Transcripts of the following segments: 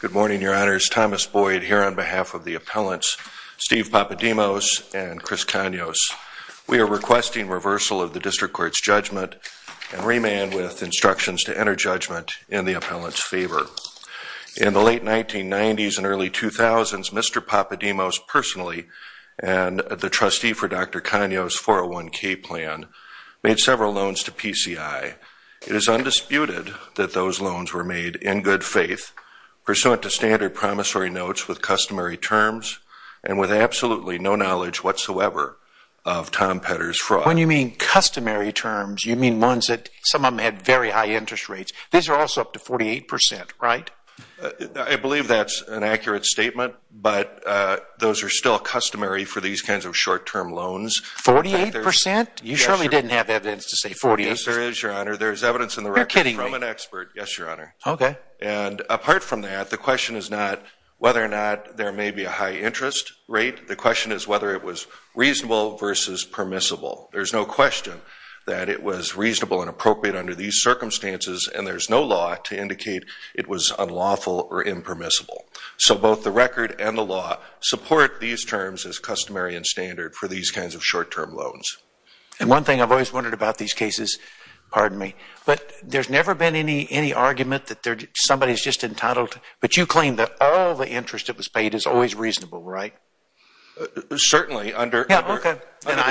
Good morning, your honors. Thomas Boyd here on behalf of the appellants Steve Papademos and Chris Kanios. We are requesting reversal of the district court's judgment and remand with instructions to enter judgment in the appellant's favor. In the late 1990s and early 2000s, Mr. Papademos personally and the trustee for Dr. Kanios 401k plan made several loans to PCI. It is undisputed that those loans were made in good faith pursuant to standard promissory notes with customary terms and with absolutely no knowledge whatsoever of Tom Petter's fraud. When you mean customary terms, you mean ones that some of them had very high interest rates. These are also up to 48%, right? I believe that's an accurate statement, but those are still customary for these kinds of short-term loans. 48%? You surely didn't have evidence to say 48%? Yes, there is, your honor. There's evidence in the record from an expert, yes, your honor. And apart from that, the question is not whether or not there may be a high interest rate. The question is whether it was reasonable versus permissible. There's no question that it was reasonable and appropriate under these circumstances, and there's no law to indicate it was unlawful or impermissible. So both the record and the law support these terms as customary and standard for these kinds of short-term loans. And one thing I've always wondered about these cases, pardon me, but there's never been any argument that somebody's just entitled to, but you claim that all the interest that was paid is always reasonable, right? Certainly, under the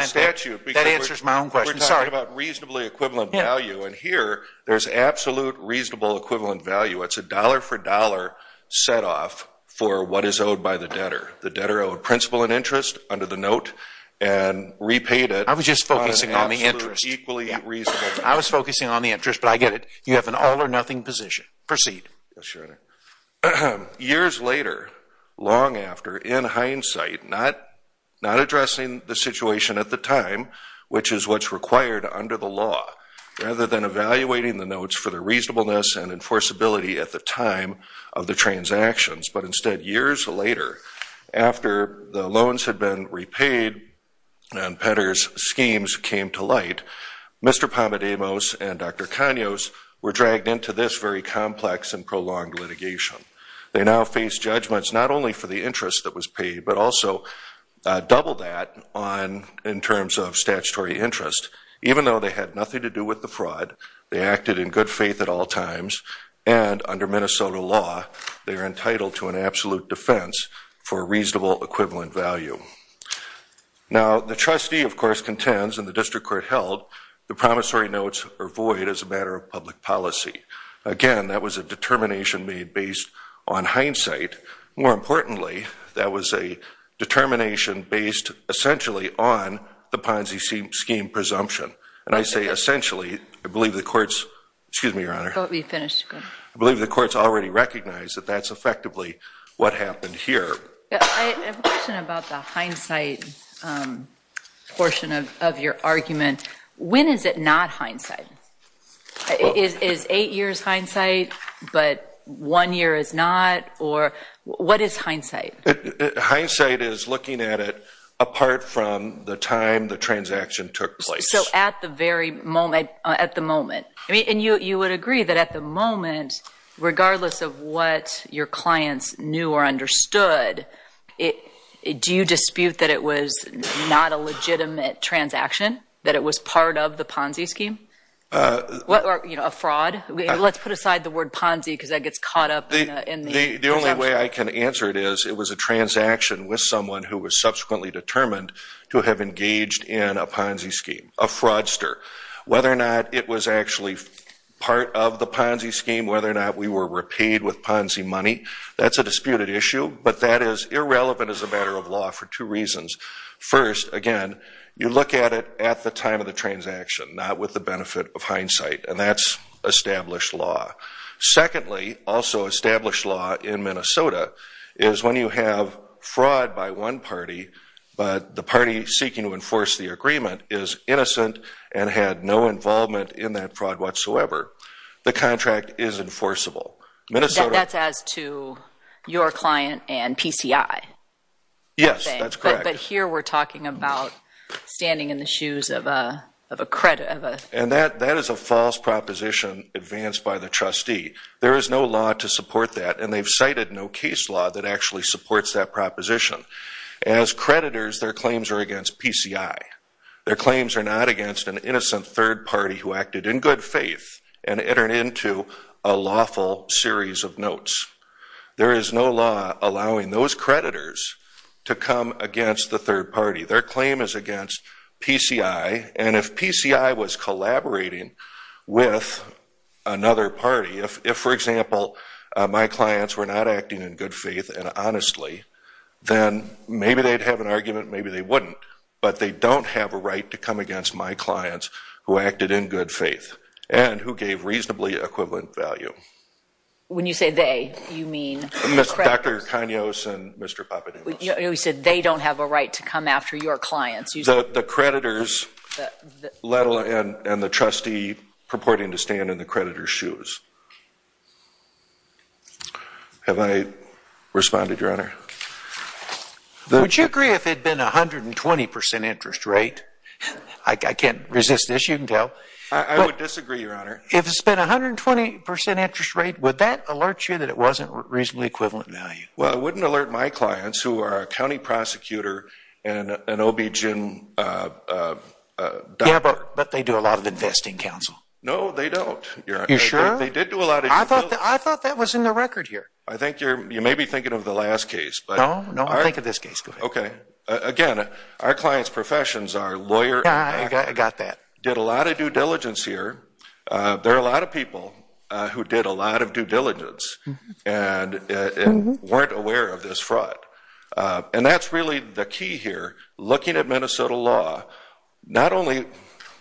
statute, because we're talking about reasonably equivalent value, and here there's absolute reasonable equivalent value. It's a dollar-for-dollar set-off for what is owed by the debtor. The debtor owed principal and interest under the note and repaid it on an absolutely equally reasonable note. I was just focusing on the interest. I was focusing on the interest, but I get it. You have an all-or-nothing position. Proceed. Yes, your honor. Years later, long after, in hindsight, not addressing the situation at the time, which is what's required under the law, rather than evaluating the notes for the reasonableness and enforceability at the time of the transactions, but instead years later, after the loans had been repaid and Petter's schemes came to light, Mr. Pomodemos and Dr. Kanyos were dragged into this very complex and prolonged litigation. They now face judgments not only for the interest that was paid, but also double that in terms of statutory interest. Even though they had nothing to do with the fraud, they acted in good faith at all times, and under Minnesota law, they are entitled to an absolute defense for a reasonable equivalent value. Now the trustee, of course, contends, and the district court held, the promissory notes are void as a matter of public policy. Again, that was a determination made based on hindsight. More importantly, that was a determination based essentially on the Ponzi scheme presumption. And I say essentially, I believe the courts, excuse me, your honor, I believe the courts already recognize that that's effectively what happened here. I have a question about the hindsight portion of your argument. When is it not hindsight? Is eight years hindsight, but one year is not, or what is hindsight? Hindsight is looking at it apart from the time the transaction took place. So at the very moment, at the moment, and you would agree that at the moment, regardless of what your clients knew or understood, do you dispute that it was not a legitimate transaction? That it was part of the Ponzi scheme? A fraud? Let's put aside the word Ponzi because that gets caught up in the transaction. The only way I can answer it is it was a transaction with someone who was subsequently determined to have engaged in a Ponzi scheme, a fraudster. Whether or not it was actually part of the Ponzi scheme, whether or not we were repaid with Ponzi money, that's a disputed issue. But that is irrelevant as a matter of law for two reasons. First, again, you look at it at the time of the transaction, not with the benefit of hindsight. And that's established law. Secondly, also established law in Minnesota is when you have fraud by one party, but the party seeking to enforce the agreement is innocent and had no involvement in that fraud whatsoever. The contract is enforceable. That's as to your client and PCI? Yes, that's correct. But here we're talking about standing in the shoes of a credit. And that is a false proposition advanced by the trustee. There is no law to support that, and they've cited no case law that actually supports that proposition. As creditors, their claims are against PCI. Their claims are not against an innocent third party who acted in good faith and entered into a lawful series of notes. There is no law allowing those creditors to come against the third party. Their claim is against PCI. And if PCI was collaborating with another party, if, for example, my clients were not then maybe they'd have an argument, maybe they wouldn't. But they don't have a right to come against my clients who acted in good faith and who gave reasonably equivalent value. When you say they, you mean the creditors? Dr. Kanyos and Mr. Papademos. You said they don't have a right to come after your clients. The creditors and the trustee purporting to stand in the creditor's shoes. Have I responded, Your Honor? Would you agree if it had been a 120% interest rate? I can't resist this, you can tell. I would disagree, Your Honor. If it's been a 120% interest rate, would that alert you that it wasn't reasonably equivalent value? Well, it wouldn't alert my clients who are a county prosecutor and an OBGYN doctor. Yeah, but they do a lot of investing, Counsel. No, they don't. You sure? They did do a lot of- I thought that was in the record here. I think you're, you may be thinking of the last case. No, no, I'm thinking of this case. Okay. Again, our clients' professions are lawyer- Yeah, I got that. Did a lot of due diligence here. There are a lot of people who did a lot of due diligence and weren't aware of this fraud. And that's really the key here, looking at Minnesota law. Not only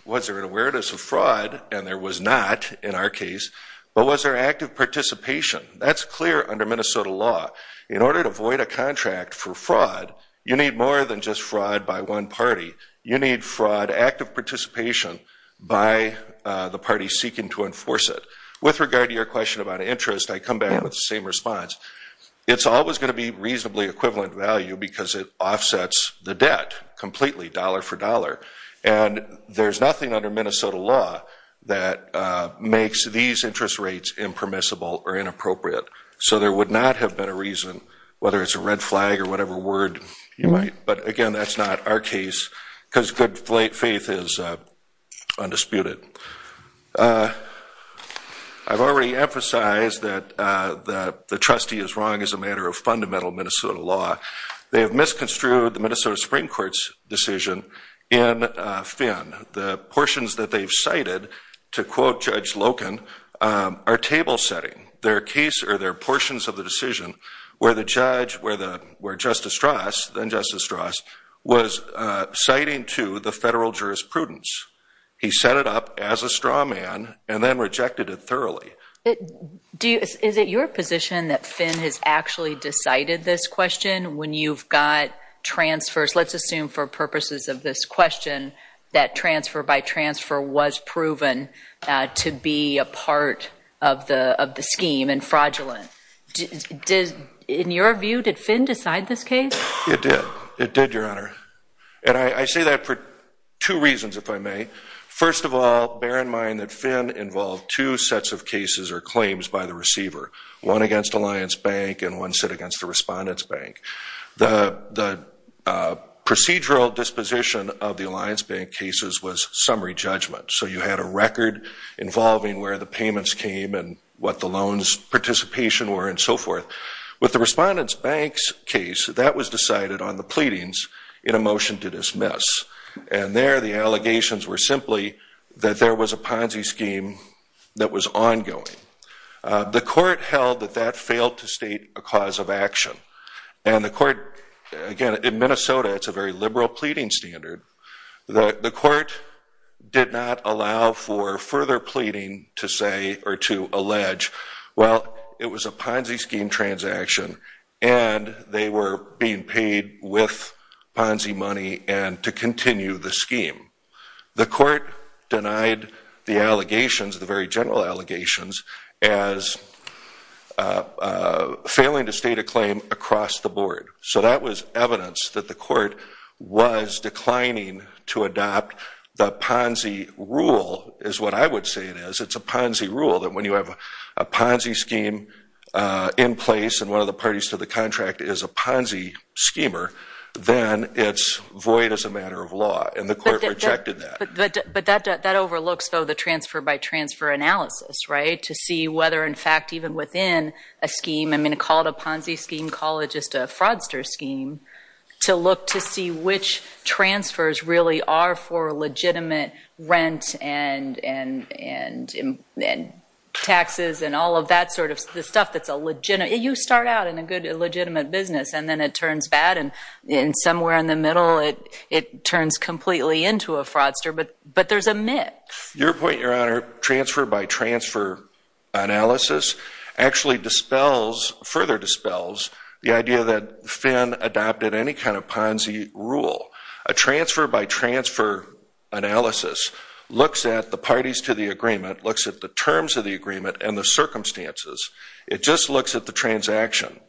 was there an awareness of fraud, and there was not in our case, but was there active participation? That's clear under Minnesota law. In order to void a contract for fraud, you need more than just fraud by one party. You need fraud, active participation by the party seeking to enforce it. With regard to your question about interest, I come back with the same response. It's always going to be reasonably equivalent value because it offsets the debt completely, dollar for dollar. And there's nothing under Minnesota law that makes these interest rates impermissible or inappropriate. So there would not have been a reason, whether it's a red flag or whatever word you might, but again, that's not our case because good faith is undisputed. I've already emphasized that the trustee is wrong as a matter of fundamental Minnesota law. They have misconstrued the Minnesota Supreme Court's decision in Finn. The portions that they've cited, to quote Judge Loken, are table setting. They're portions of the decision where Justice Strauss was citing to the federal jurisprudence. He set it up as a straw man and then rejected it thoroughly. Is it your position that Finn has actually decided this question when you've got transfers? Let's assume for purposes of this question that transfer by transfer was proven to be a part of the scheme and fraudulent. In your view, did Finn decide this case? It did. It did, Your Honor. And I say that for two reasons, if I may. First of all, bear in mind that Finn involved two sets of cases or claims by the receiver. One against Alliance Bank and one set against the Respondent's Bank. The procedural disposition of the Alliance Bank cases was summary judgment. So you had a record involving where the payments came and what the loans participation were and so forth. With the Respondent's Bank's case, that was decided on the pleadings in a motion to dismiss. And there, the allegations were simply that there was a Ponzi scheme that was ongoing. The court held that that failed to state a cause of action. And the court, again, in Minnesota, it's a very liberal pleading standard. The court did not allow for further pleading to say or to allege, well, it was a Ponzi scheme, to continue the scheme. The court denied the allegations, the very general allegations, as failing to state a claim across the board. So that was evidence that the court was declining to adopt the Ponzi rule, is what I would say it is. It's a Ponzi rule that when you have a Ponzi scheme in place and one of the parties to the contract is a Ponzi schemer, then it's void as a matter of law. And the court rejected that. But that overlooks, though, the transfer-by-transfer analysis, right? To see whether, in fact, even within a scheme, I mean, call it a Ponzi scheme, call it just a fraudster scheme, to look to see which transfers really are for legitimate rent and taxes and all of that sort of stuff. You start out in a good, legitimate business, and then it turns bad, and somewhere in the middle it turns completely into a fraudster. But there's a mix. Your point, Your Honor, transfer-by-transfer analysis actually further dispels the idea that Finn adopted any kind of Ponzi rule. A transfer-by-transfer analysis looks at the parties to the agreement, looks at the terms of the agreement and the circumstances. It just looks at the transaction.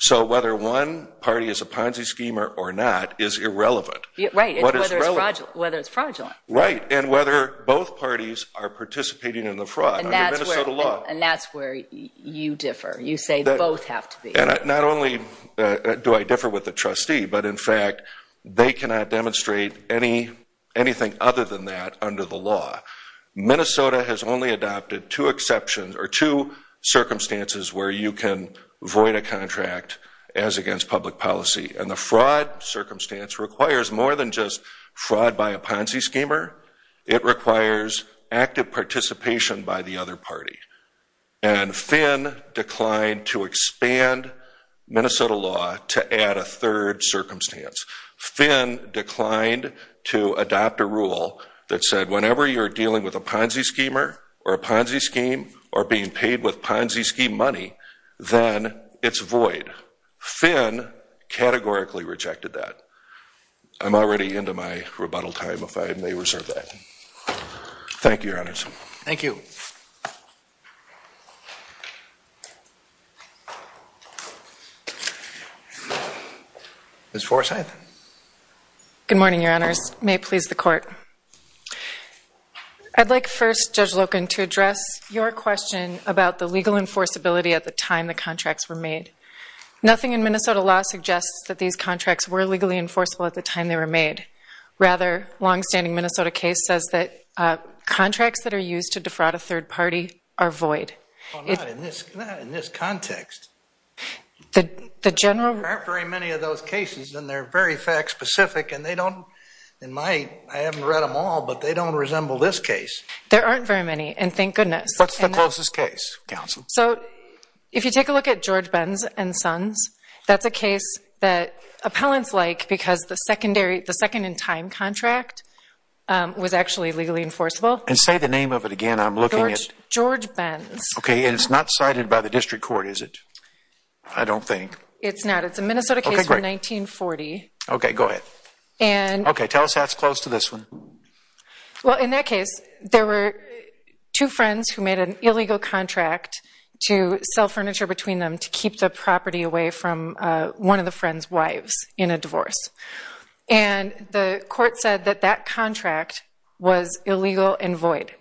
So whether one party is a Ponzi schemer or not is irrelevant. Right. Whether it's fraudulent. Whether it's fraudulent. Right. And whether both parties are participating in the fraud under Minnesota law. And that's where you differ. You say both have to be. Not only do I differ with the trustee, but in fact, they cannot demonstrate anything other than that under the law. Minnesota has only adopted two exceptions or two circumstances where you can void a contract as against public policy. And the fraud circumstance requires more than just fraud by a Ponzi schemer. It requires active participation by the other party. And Finn declined to expand Minnesota law to add a third circumstance. Finn declined to adopt a rule that said whenever you're dealing with a Ponzi schemer or a Ponzi scheme or being paid with Ponzi scheme money, then it's void. Finn categorically rejected that. I'm already into my rebuttal time, if I may reserve that. Thank you, Your Honors. Thank you. Ms. Forsythe. Good morning, Your Honors. May it please the Court. I'd like first, Judge Loken, to address your question about the legal enforceability at the time the contracts were made. Nothing in Minnesota law suggests that these contracts were legally enforceable at the time they were made. Rather, a longstanding Minnesota case says that contracts that are used to defraud a third party are void. Not in this context. The general... There aren't very many of those cases, and they're very fact-specific, and they don't, in my... I haven't read them all, but they don't resemble this case. There aren't very many, and thank goodness. What's the closest case, Counsel? So if you take a look at George Ben's and Son's, that's a case that appellants like because the secondary... The second-in-time contract was actually legally enforceable. And say the name of it again. I'm looking at... George Ben's. Okay, and it's not cited by the district court, is it? I don't think. It's not. It's a Minnesota case from 1940. Okay, great. Okay, go ahead. And... Okay, tell us how it's close to this one. Well, in that case, there were two friends who made an illegal contract to sell furniture between them to keep the property away from one of the friend's wives in a divorce. And the court said that that contract was illegal and void.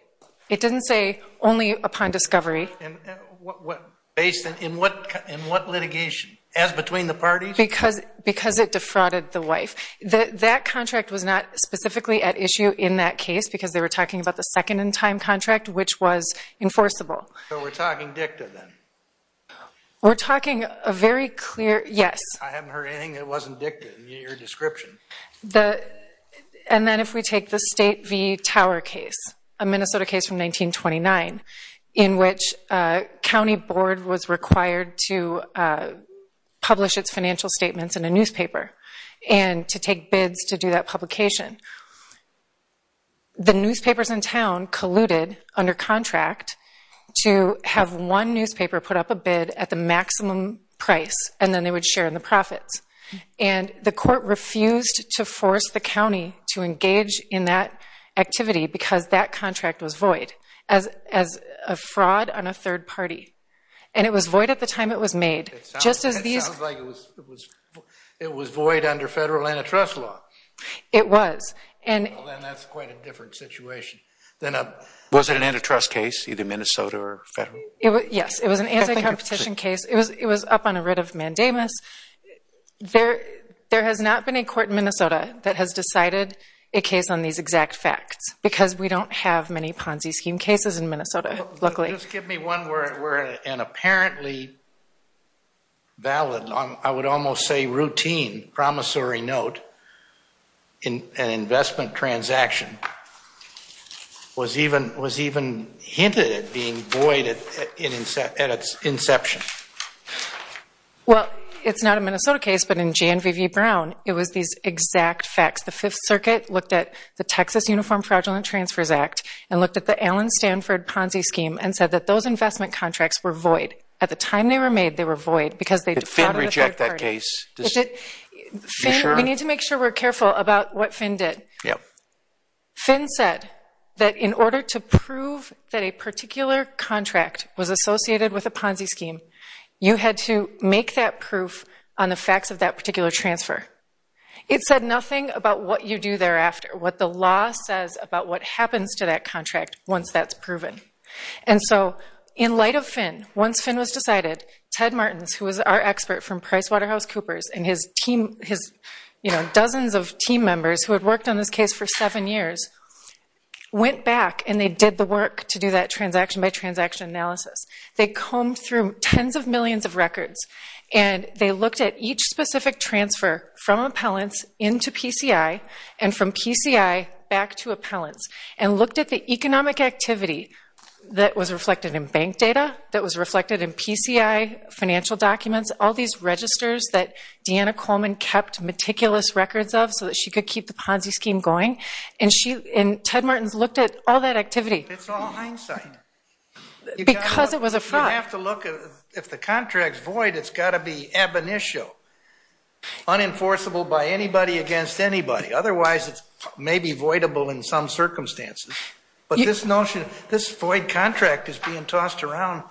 It didn't say, only upon discovery... And what... Based on... In what... In what litigation? As between the parties? Because it defrauded the wife. That contract was not specifically at issue in that case, because they were talking about the second-in-time contract, which was enforceable. So we're talking DICTA, then? We're talking a very clear... Yes. I haven't heard anything that wasn't DICTA in your description. And then if we take the State v. Tower case, a Minnesota case from 1929, in which a county board was required to publish its financial statements in a newspaper and to take bids to do that publication. The newspapers in town colluded under contract to have one newspaper put up a bid at the maximum price, and then they would share in the profits. And the court refused to force the county to engage in that activity, because that contract was void, as a fraud on a third party. And it was void at the time it was made, just as these... It sounds like it was void under federal antitrust law. It was. Well, then that's quite a different situation. Was it an antitrust case, either Minnesota or federal? Yes. It was an anti-competition case. It was up on a writ of mandamus. There has not been a court in Minnesota that has decided a case on these exact facts, because we don't have many Ponzi scheme cases in Minnesota, luckily. Just give me one where an apparently valid, I would almost say routine, promissory note in an investment transaction was even hinted at being void at its inception. Well, it's not a Minnesota case, but in Jan V. Brown, it was these exact facts. The Fifth Circuit looked at the Texas Uniform Fraudulent Transfers Act, and looked at the Allen Stanford Ponzi scheme, and said that those investment contracts were void. At the time they were made, they were void, because they defrauded a third party. Did Finn reject that case? Is it... Are you sure? Let's make sure we're careful about what Finn did. Finn said that in order to prove that a particular contract was associated with a Ponzi scheme, you had to make that proof on the facts of that particular transfer. It said nothing about what you do thereafter, what the law says about what happens to that contract once that's proven. In light of Finn, once Finn was decided, Ted Martins, who was our expert from PricewaterhouseCoopers and his dozens of team members who had worked on this case for seven years, went back and they did the work to do that transaction-by-transaction analysis. They combed through tens of millions of records, and they looked at each specific transfer from appellants into PCI, and from PCI back to appellants, and looked at the economic activity that was reflected in bank data, that was reflected in PCI financial documents, all these registers that Deanna Coleman kept meticulous records of so that she could keep the Ponzi scheme going, and Ted Martins looked at all that activity. It's all hindsight. Because it was a fraud. You have to look at... If the contract's void, it's got to be ab initio, unenforceable by anybody against anybody. Otherwise, it may be voidable in some circumstances. But this notion, this void contract is being tossed around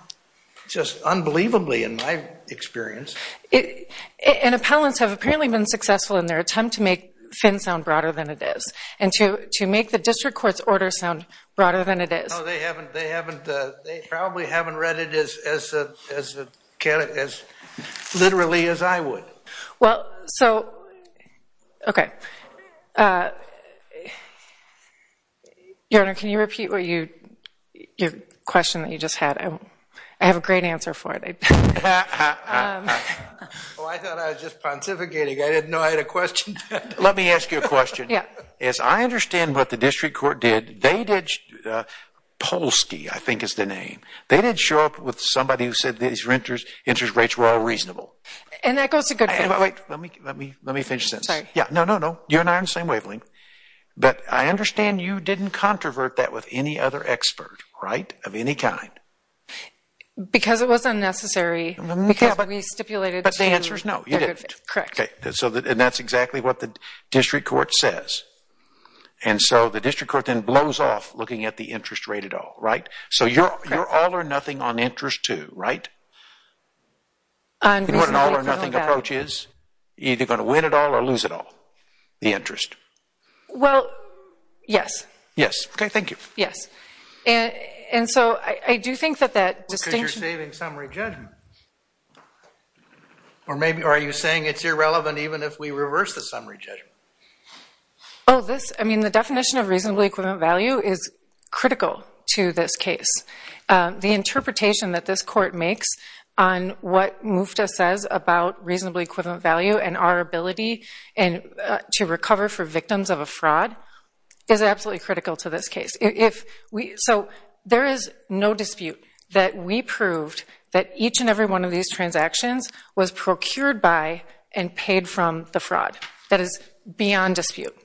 just unbelievably, in my experience. And appellants have apparently been successful in their attempt to make Finn sound broader than it is, and to make the district court's order sound broader than it is. No, they haven't. They haven't. They probably haven't read it as literally as I would. Well, so, okay, Your Honor, can you repeat what you, your question that you just had? I have a great answer for it. Oh, I thought I was just pontificating. I didn't know I had a question. Let me ask you a question. Yeah. As I understand what the district court did, they did, Polsky, I think is the name, they did show up with somebody who said these interest rates were all reasonable. And that goes to good faith. Wait, let me finish this. Sorry. Yeah. No, no, no. You and I are on the same wavelength. But I understand you didn't controvert that with any other expert, right, of any kind. Because it was unnecessary. Because we stipulated. But the answer is no, you didn't. Correct. Okay. So, and that's exactly what the district court says. And so the district court then blows off looking at the interest rate at all, right? So you're all or nothing on interest too, right? And what an all or nothing approach is, you're either going to win it all or lose it all, the interest. Well, yes. Yes. Okay. Thank you. Yes. And so I do think that that distinction. Because you're saving summary judgment. Or maybe, or are you saying it's irrelevant even if we reverse the summary judgment? Oh, this, I mean, the definition of reasonably equivalent value is critical to this case. The interpretation that this court makes on what MUFTA says about reasonably equivalent value and our ability to recover for victims of a fraud is absolutely critical to this case. So there is no dispute that we proved that each and every one of these transactions was procured by and paid from the fraud. That is beyond dispute.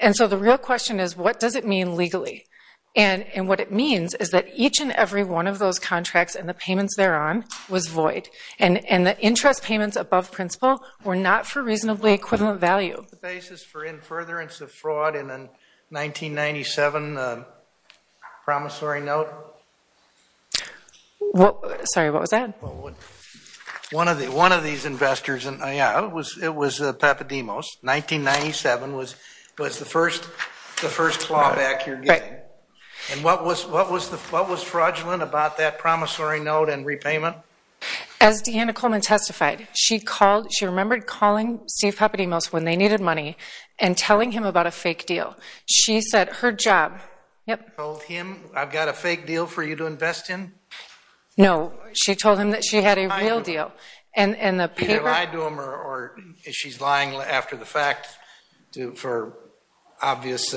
And so the real question is, what does it mean legally? And what it means is that each and every one of those contracts and the payments they're on was void. And the interest payments above principle were not for reasonably equivalent value. The basis for in furtherance of fraud in a 1997 promissory note? Sorry, what was that? One of these investors, yeah, it was Papademos, 1997 was the first clawback you're getting. And what was fraudulent about that promissory note and repayment? As Deanna Coleman testified, she called, she remembered calling Steve Papademos when they needed money and telling him about a fake deal. She said her job. You told him, I've got a fake deal for you to invest in? No, she told him that she had a real deal. And the paper... You lied to him or she's lying after the fact for obvious...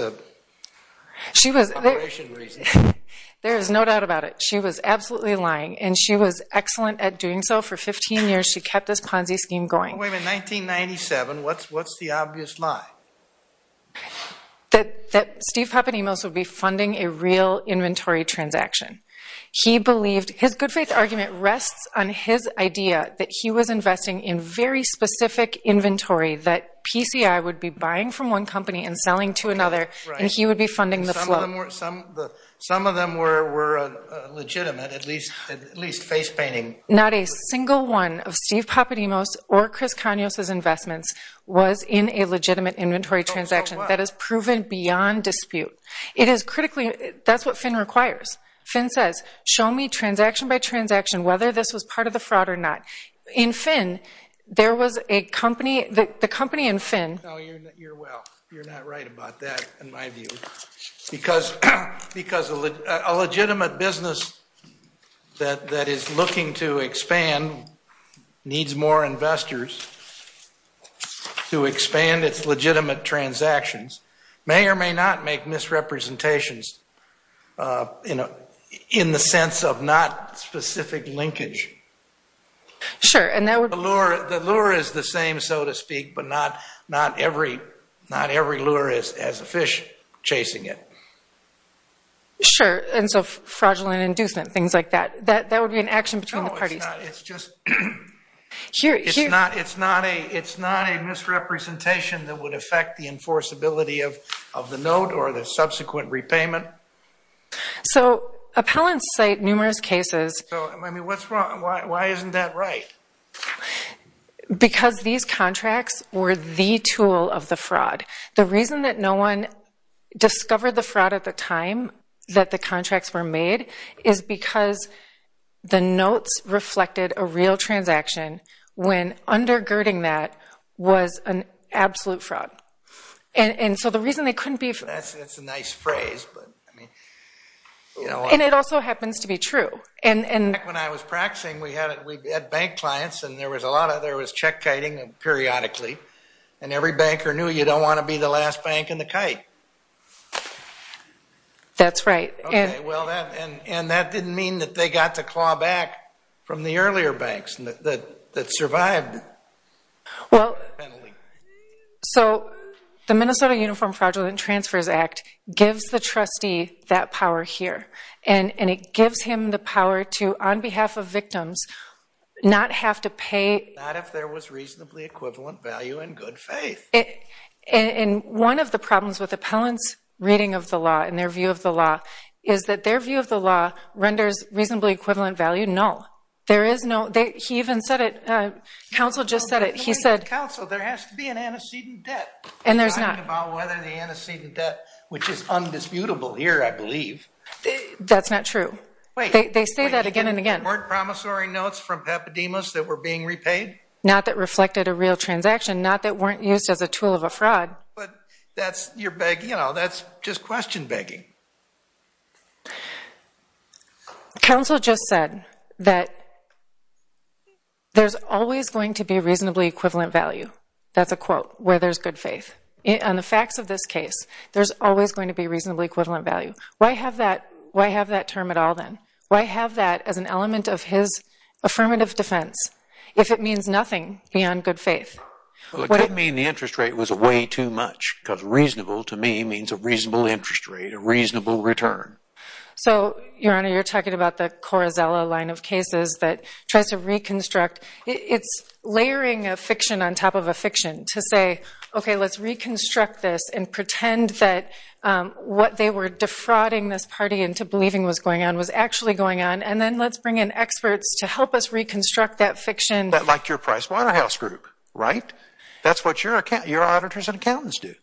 She was... Operation reason. There is no doubt about it. She was absolutely lying. And she was excellent at doing so for 15 years. She kept this Ponzi scheme going. Wait a minute, 1997, what's the obvious lie? That Steve Papademos would be funding a real inventory transaction. He believed, his good faith argument rests on his idea that he was investing in very And he would be funding the flow. Some of them were legitimate, at least face painting. Not a single one of Steve Papademos or Chris Kanyos' investments was in a legitimate inventory transaction. That is proven beyond dispute. It is critically, that's what Finn requires. Finn says, show me transaction by transaction, whether this was part of the fraud or not. In Finn, there was a company, the company in Finn... No, you're well. You're not right about that, in my view. Because a legitimate business that is looking to expand, needs more investors to expand its legitimate transactions, may or may not make misrepresentations in the sense of not specific linkage. Sure. The lure is the same, so to speak, but not every lure has a fish chasing it. Sure. And so fraudulent inducement, things like that. That would be an action between the parties. It's not a misrepresentation that would affect the enforceability of the note or the subsequent repayment. So appellants cite numerous cases. What's wrong? Why isn't that right? Because these contracts were the tool of the fraud. The reason that no one discovered the fraud at the time that the contracts were made is because the notes reflected a real transaction when undergirding that was an absolute fraud. And so the reason they couldn't be... That's a nice phrase, but I mean... And it also happens to be true. Back when I was practicing, we had bank clients and there was check-kiting periodically. And every banker knew you don't want to be the last bank in the kite. That's right. And that didn't mean that they got to claw back from the earlier banks that survived that penalty. So the Minnesota Uniform Fraudulent Transfers Act gives the trustee that power here. And it gives him the power to, on behalf of victims, not have to pay... Not if there was reasonably equivalent value and good faith. And one of the problems with appellants' reading of the law and their view of the law is that their view of the law renders reasonably equivalent value? No. There is no... He even said it. Counsel just said it. He said... Counsel, there has to be an antecedent debt. And there's not. Talking about whether the antecedent debt, which is undisputable here, I believe. That's not true. Wait. They say that again and again. Weren't promissory notes from Papademos that were being repaid? Not that reflected a real transaction. Not that weren't used as a tool of a fraud. But that's... You're begging... You know, that's just question begging. Counsel just said that there's always going to be reasonably equivalent value. That's a quote. Where there's good faith. On the facts of this case, there's always going to be reasonably equivalent value. Why have that... Why have that term at all, then? Why have that as an element of his affirmative defense, if it means nothing beyond good faith? Well, it could mean the interest rate was way too much, because reasonable to me means a reasonable interest rate, a reasonable return. So Your Honor, you're talking about the Corazella line of cases that tries to reconstruct... It's layering a fiction on top of a fiction to say, okay, let's reconstruct this and pretend that what they were defrauding this party into believing was going on was actually going on, and then let's bring in experts to help us reconstruct that fiction. Like your Pricewaterhouse Group, right? That's what your auditors and accountants do.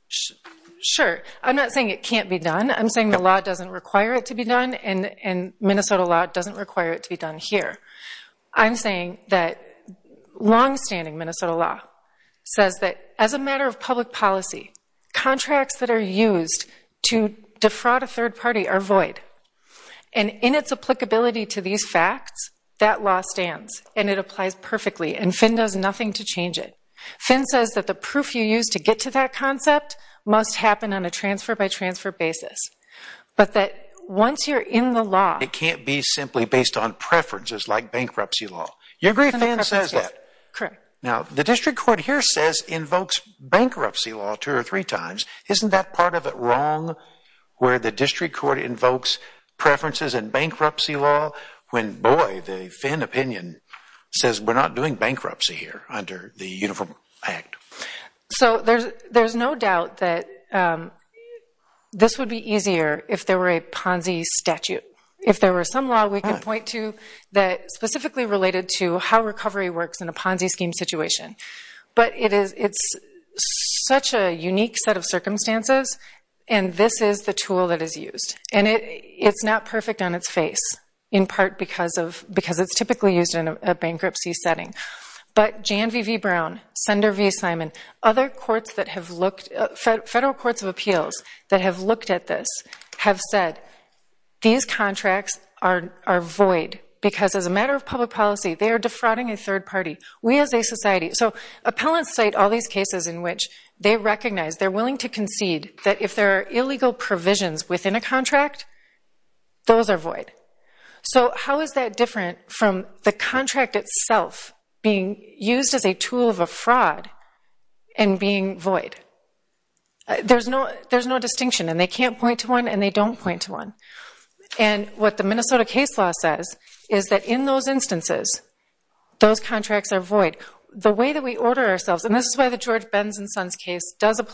Sure. I'm not saying it can't be done. I'm saying the law doesn't require it to be done, and Minnesota law doesn't require it to be done here. I'm saying that longstanding Minnesota law says that as a matter of public policy, contracts that are used to defraud a third party are void. And in its applicability to these facts, that law stands, and it applies perfectly, and Finn does nothing to change it. Finn says that the proof you use to get to that concept must happen on a transfer by transfer basis, but that once you're in the law... It can't be simply based on preferences like bankruptcy law. You agree Finn says that? Correct. Now, the district court here says invokes bankruptcy law two or three times. Isn't that part of it wrong where the district court invokes preferences in bankruptcy law when, boy, the Finn opinion says we're not doing bankruptcy here under the Uniform Act? So there's no doubt that this would be easier if there were a Ponzi statute. If there were some law we could point to that specifically related to how recovery works in a Ponzi scheme situation. But it's such a unique set of circumstances, and this is the tool that is used. And it's not perfect on its face, in part because it's typically used in a bankruptcy setting. But Jan V. V. Brown, Sender V. Simon, other courts that have looked... Federal courts of appeals that have looked at this have said, these contracts are void because as a matter of public policy, they are defrauding a third party. We as a society... So appellants cite all these cases in which they recognize, they're willing to concede that if there are illegal provisions within a contract, those are void. So how is that different from the contract itself being used as a tool of a fraud and being void? There's no distinction, and they can't point to one, and they don't point to one. And what the Minnesota case law says is that in those instances, those contracts are void. The way that we order ourselves, and this is why the George Benz and Sons case does an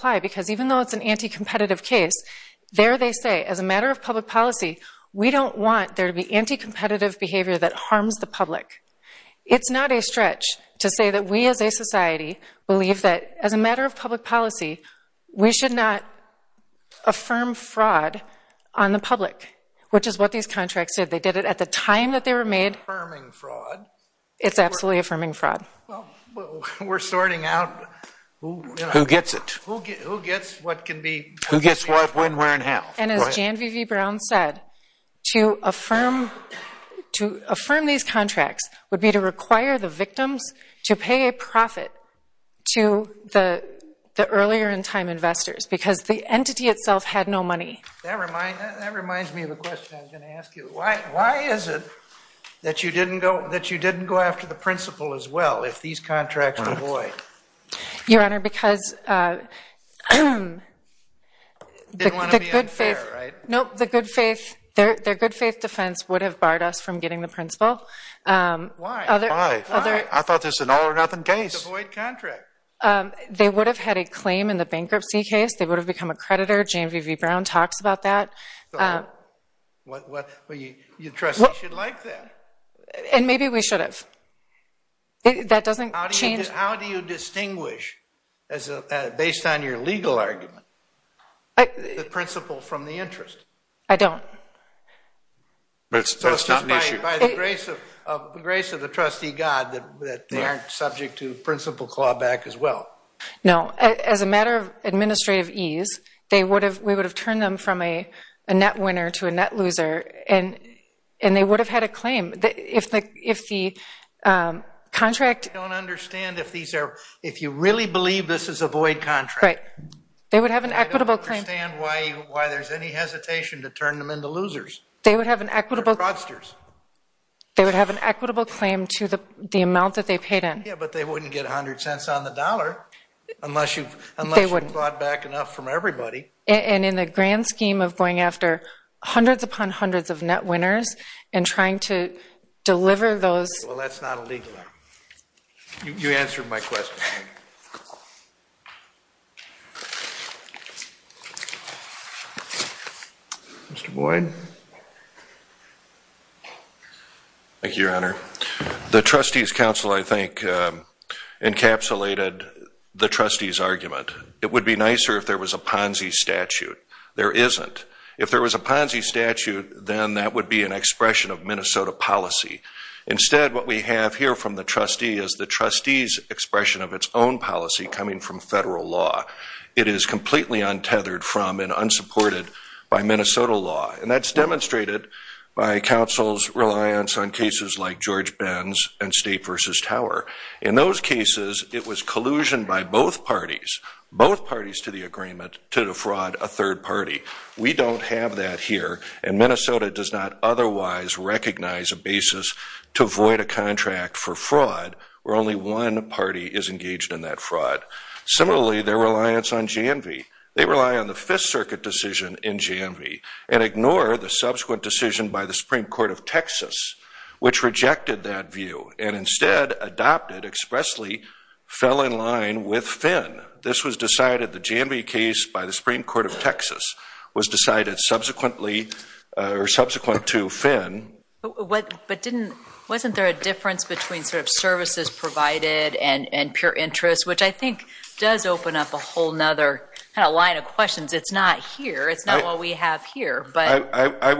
anti-competitive case, there they say, as a matter of public policy, we don't want there to be anti-competitive behavior that harms the public. It's not a stretch to say that we as a society believe that as a matter of public policy, we should not affirm fraud on the public, which is what these contracts did. They did it at the time that they were made. It's absolutely affirming fraud. We're sorting out... Who gets it? Who gets what can be... Who gets what, when, where, and how? And as Jan Vivi-Brown said, to affirm these contracts would be to require the victims to pay a profit to the earlier in time investors, because the entity itself had no money. That reminds me of a question I was going to ask you. Why is it that you didn't go after the principal as well if these contracts were void? Your Honor, because... Didn't want to be unfair, right? Nope. The good faith... Their good faith defense would have barred us from getting the principal. Why? Why? Why? I thought this was an all or nothing case. It's a void contract. They would have had a claim in the bankruptcy case. They would have become a creditor. Jan Vivi-Brown talks about that. Well, your trustee should like that. And maybe we should have. That doesn't change... How do you distinguish, based on your legal argument, the principal from the interest? I don't. That's just an issue. So it's by the grace of the trustee God that they aren't subject to principal clawback as well? No. As a matter of administrative ease, we would have turned them from a net winner to a net loser and they would have had a claim. If the contract... I don't understand if these are... If you really believe this is a void contract... Right. They would have an equitable claim. I don't understand why there's any hesitation to turn them into losers. They would have an equitable... Or fraudsters. They would have an equitable claim to the amount that they paid in. Yeah, but they wouldn't get 100 cents on the dollar unless you've bought back enough from everybody. And in the grand scheme of going after hundreds upon hundreds of net winners and trying to deliver those... Well, that's not illegal. You answered my question. Mr. Boyd? Thank you, Your Honor. The trustees' council, I think, encapsulated the trustees' argument. It would be nicer if there was a Ponzi statute. There isn't. If there was a Ponzi statute, then that would be an expression of Minnesota policy. Instead, what we have here from the trustee is the trustees' expression of its own policy coming from federal law. It is completely untethered from and unsupported by Minnesota law. And that's demonstrated by counsel's reliance on cases like George Ben's and State v. Tower. In those cases, it was collusion by both parties, both parties to the agreement, to defraud a third party. We don't have that here. And Minnesota does not otherwise recognize a basis to void a contract for fraud where only one party is engaged in that fraud. Similarly, their reliance on Janvey. They rely on the Fifth Circuit decision in Janvey and ignore the subsequent decision by the Supreme Court of Texas, which rejected that view and instead adopted, expressly fell in line with Finn. This was decided, the Janvey case by the Supreme Court of Texas, was decided subsequently or subsequent to Finn. But wasn't there a difference between services provided and pure interest, which I think does open up a whole other kind of line of questions. It's not here. It's not what we have here. I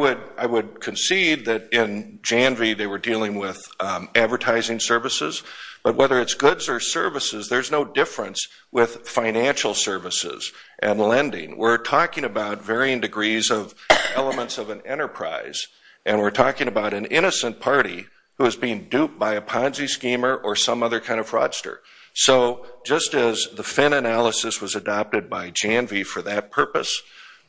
would concede that in Janvey, they were dealing with advertising services. But whether it's goods or services, there's no difference with financial services and lending. We're talking about varying degrees of elements of an enterprise, and we're talking about an innocent party who is being duped by a Ponzi schemer or some other kind of fraudster. So just as the Finn analysis was adopted by Janvey for that purpose,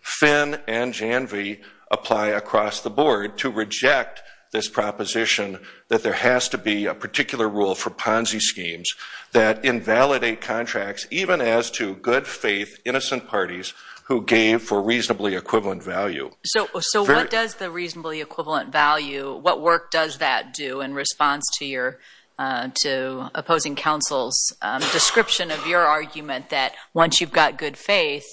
Finn and Janvey apply across the board to reject this proposition that there has to be a particular rule for Ponzi schemes that invalidate contracts, even as to good faith, innocent parties who gave for reasonably equivalent value. So what does the reasonably equivalent value, what work does that do in response to opposing counsel's description of your argument that once you've got good faith,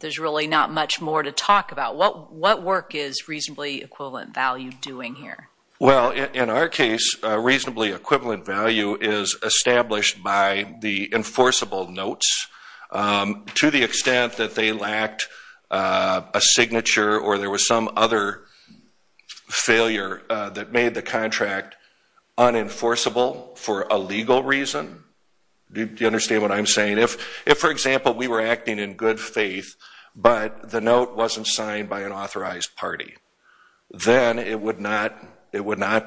there's really not much more to talk about? What work is reasonably equivalent value doing here? Well, in our case, reasonably equivalent value is established by the enforceable notes. To the extent that they lacked a signature or there was some other failure that made the contract unenforceable for a legal reason, do you understand what I'm saying? If, for example, we were acting in good faith, but the note wasn't signed by an authorized party, then it would not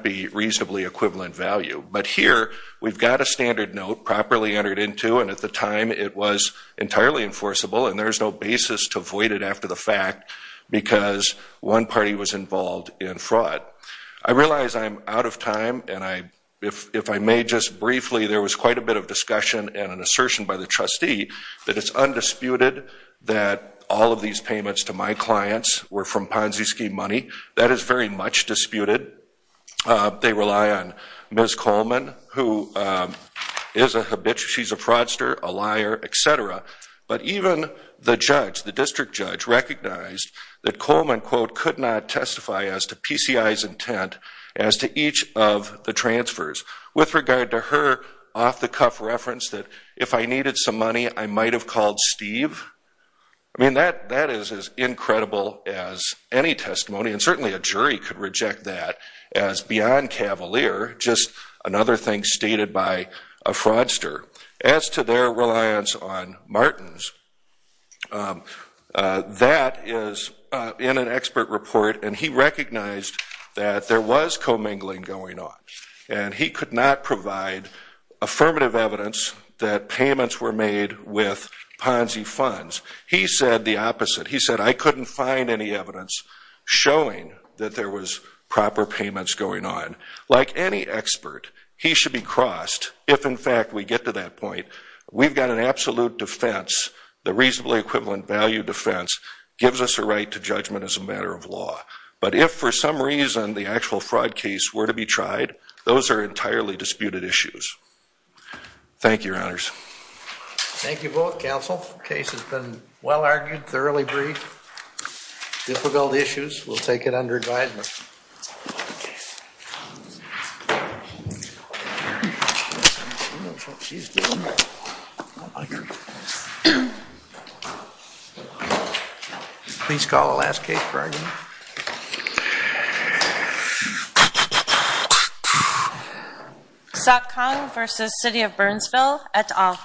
be reasonably equivalent value. But here, we've got a standard note properly entered into, and at the time it was entirely enforceable and there's no basis to avoid it after the fact because one party was involved in fraud. I realize I'm out of time, and if I may just briefly, there was quite a bit of discussion and an assertion by the trustee that it's undisputed that all of these payments to my clients were from Ponzi scheme money. That is very much disputed. They rely on Ms. Coleman, who is a habitual fraudster, a liar, etc. But even the judge, the district judge, recognized that Coleman, quote, could not testify as with regard to her off-the-cuff reference that if I needed some money, I might have called Steve. I mean, that is as incredible as any testimony, and certainly a jury could reject that as beyond cavalier, just another thing stated by a fraudster. As to their reliance on Martin's, that is in an expert report, and he recognized that there was commingling going on. And he could not provide affirmative evidence that payments were made with Ponzi funds. He said the opposite. He said, I couldn't find any evidence showing that there was proper payments going on. Like any expert, he should be crossed if, in fact, we get to that point. We've got an absolute defense. The reasonably equivalent value defense gives us a right to judgment as a matter of law. But if, for some reason, the actual fraud case were to be tried, those are entirely disputed issues. Thank you, Your Honors. Thank you both, counsel. The case has been well-argued, thoroughly briefed. Difficult issues. We'll take it under advisement. Please call the last case for argument. Sotkang versus City of Burnsville et al.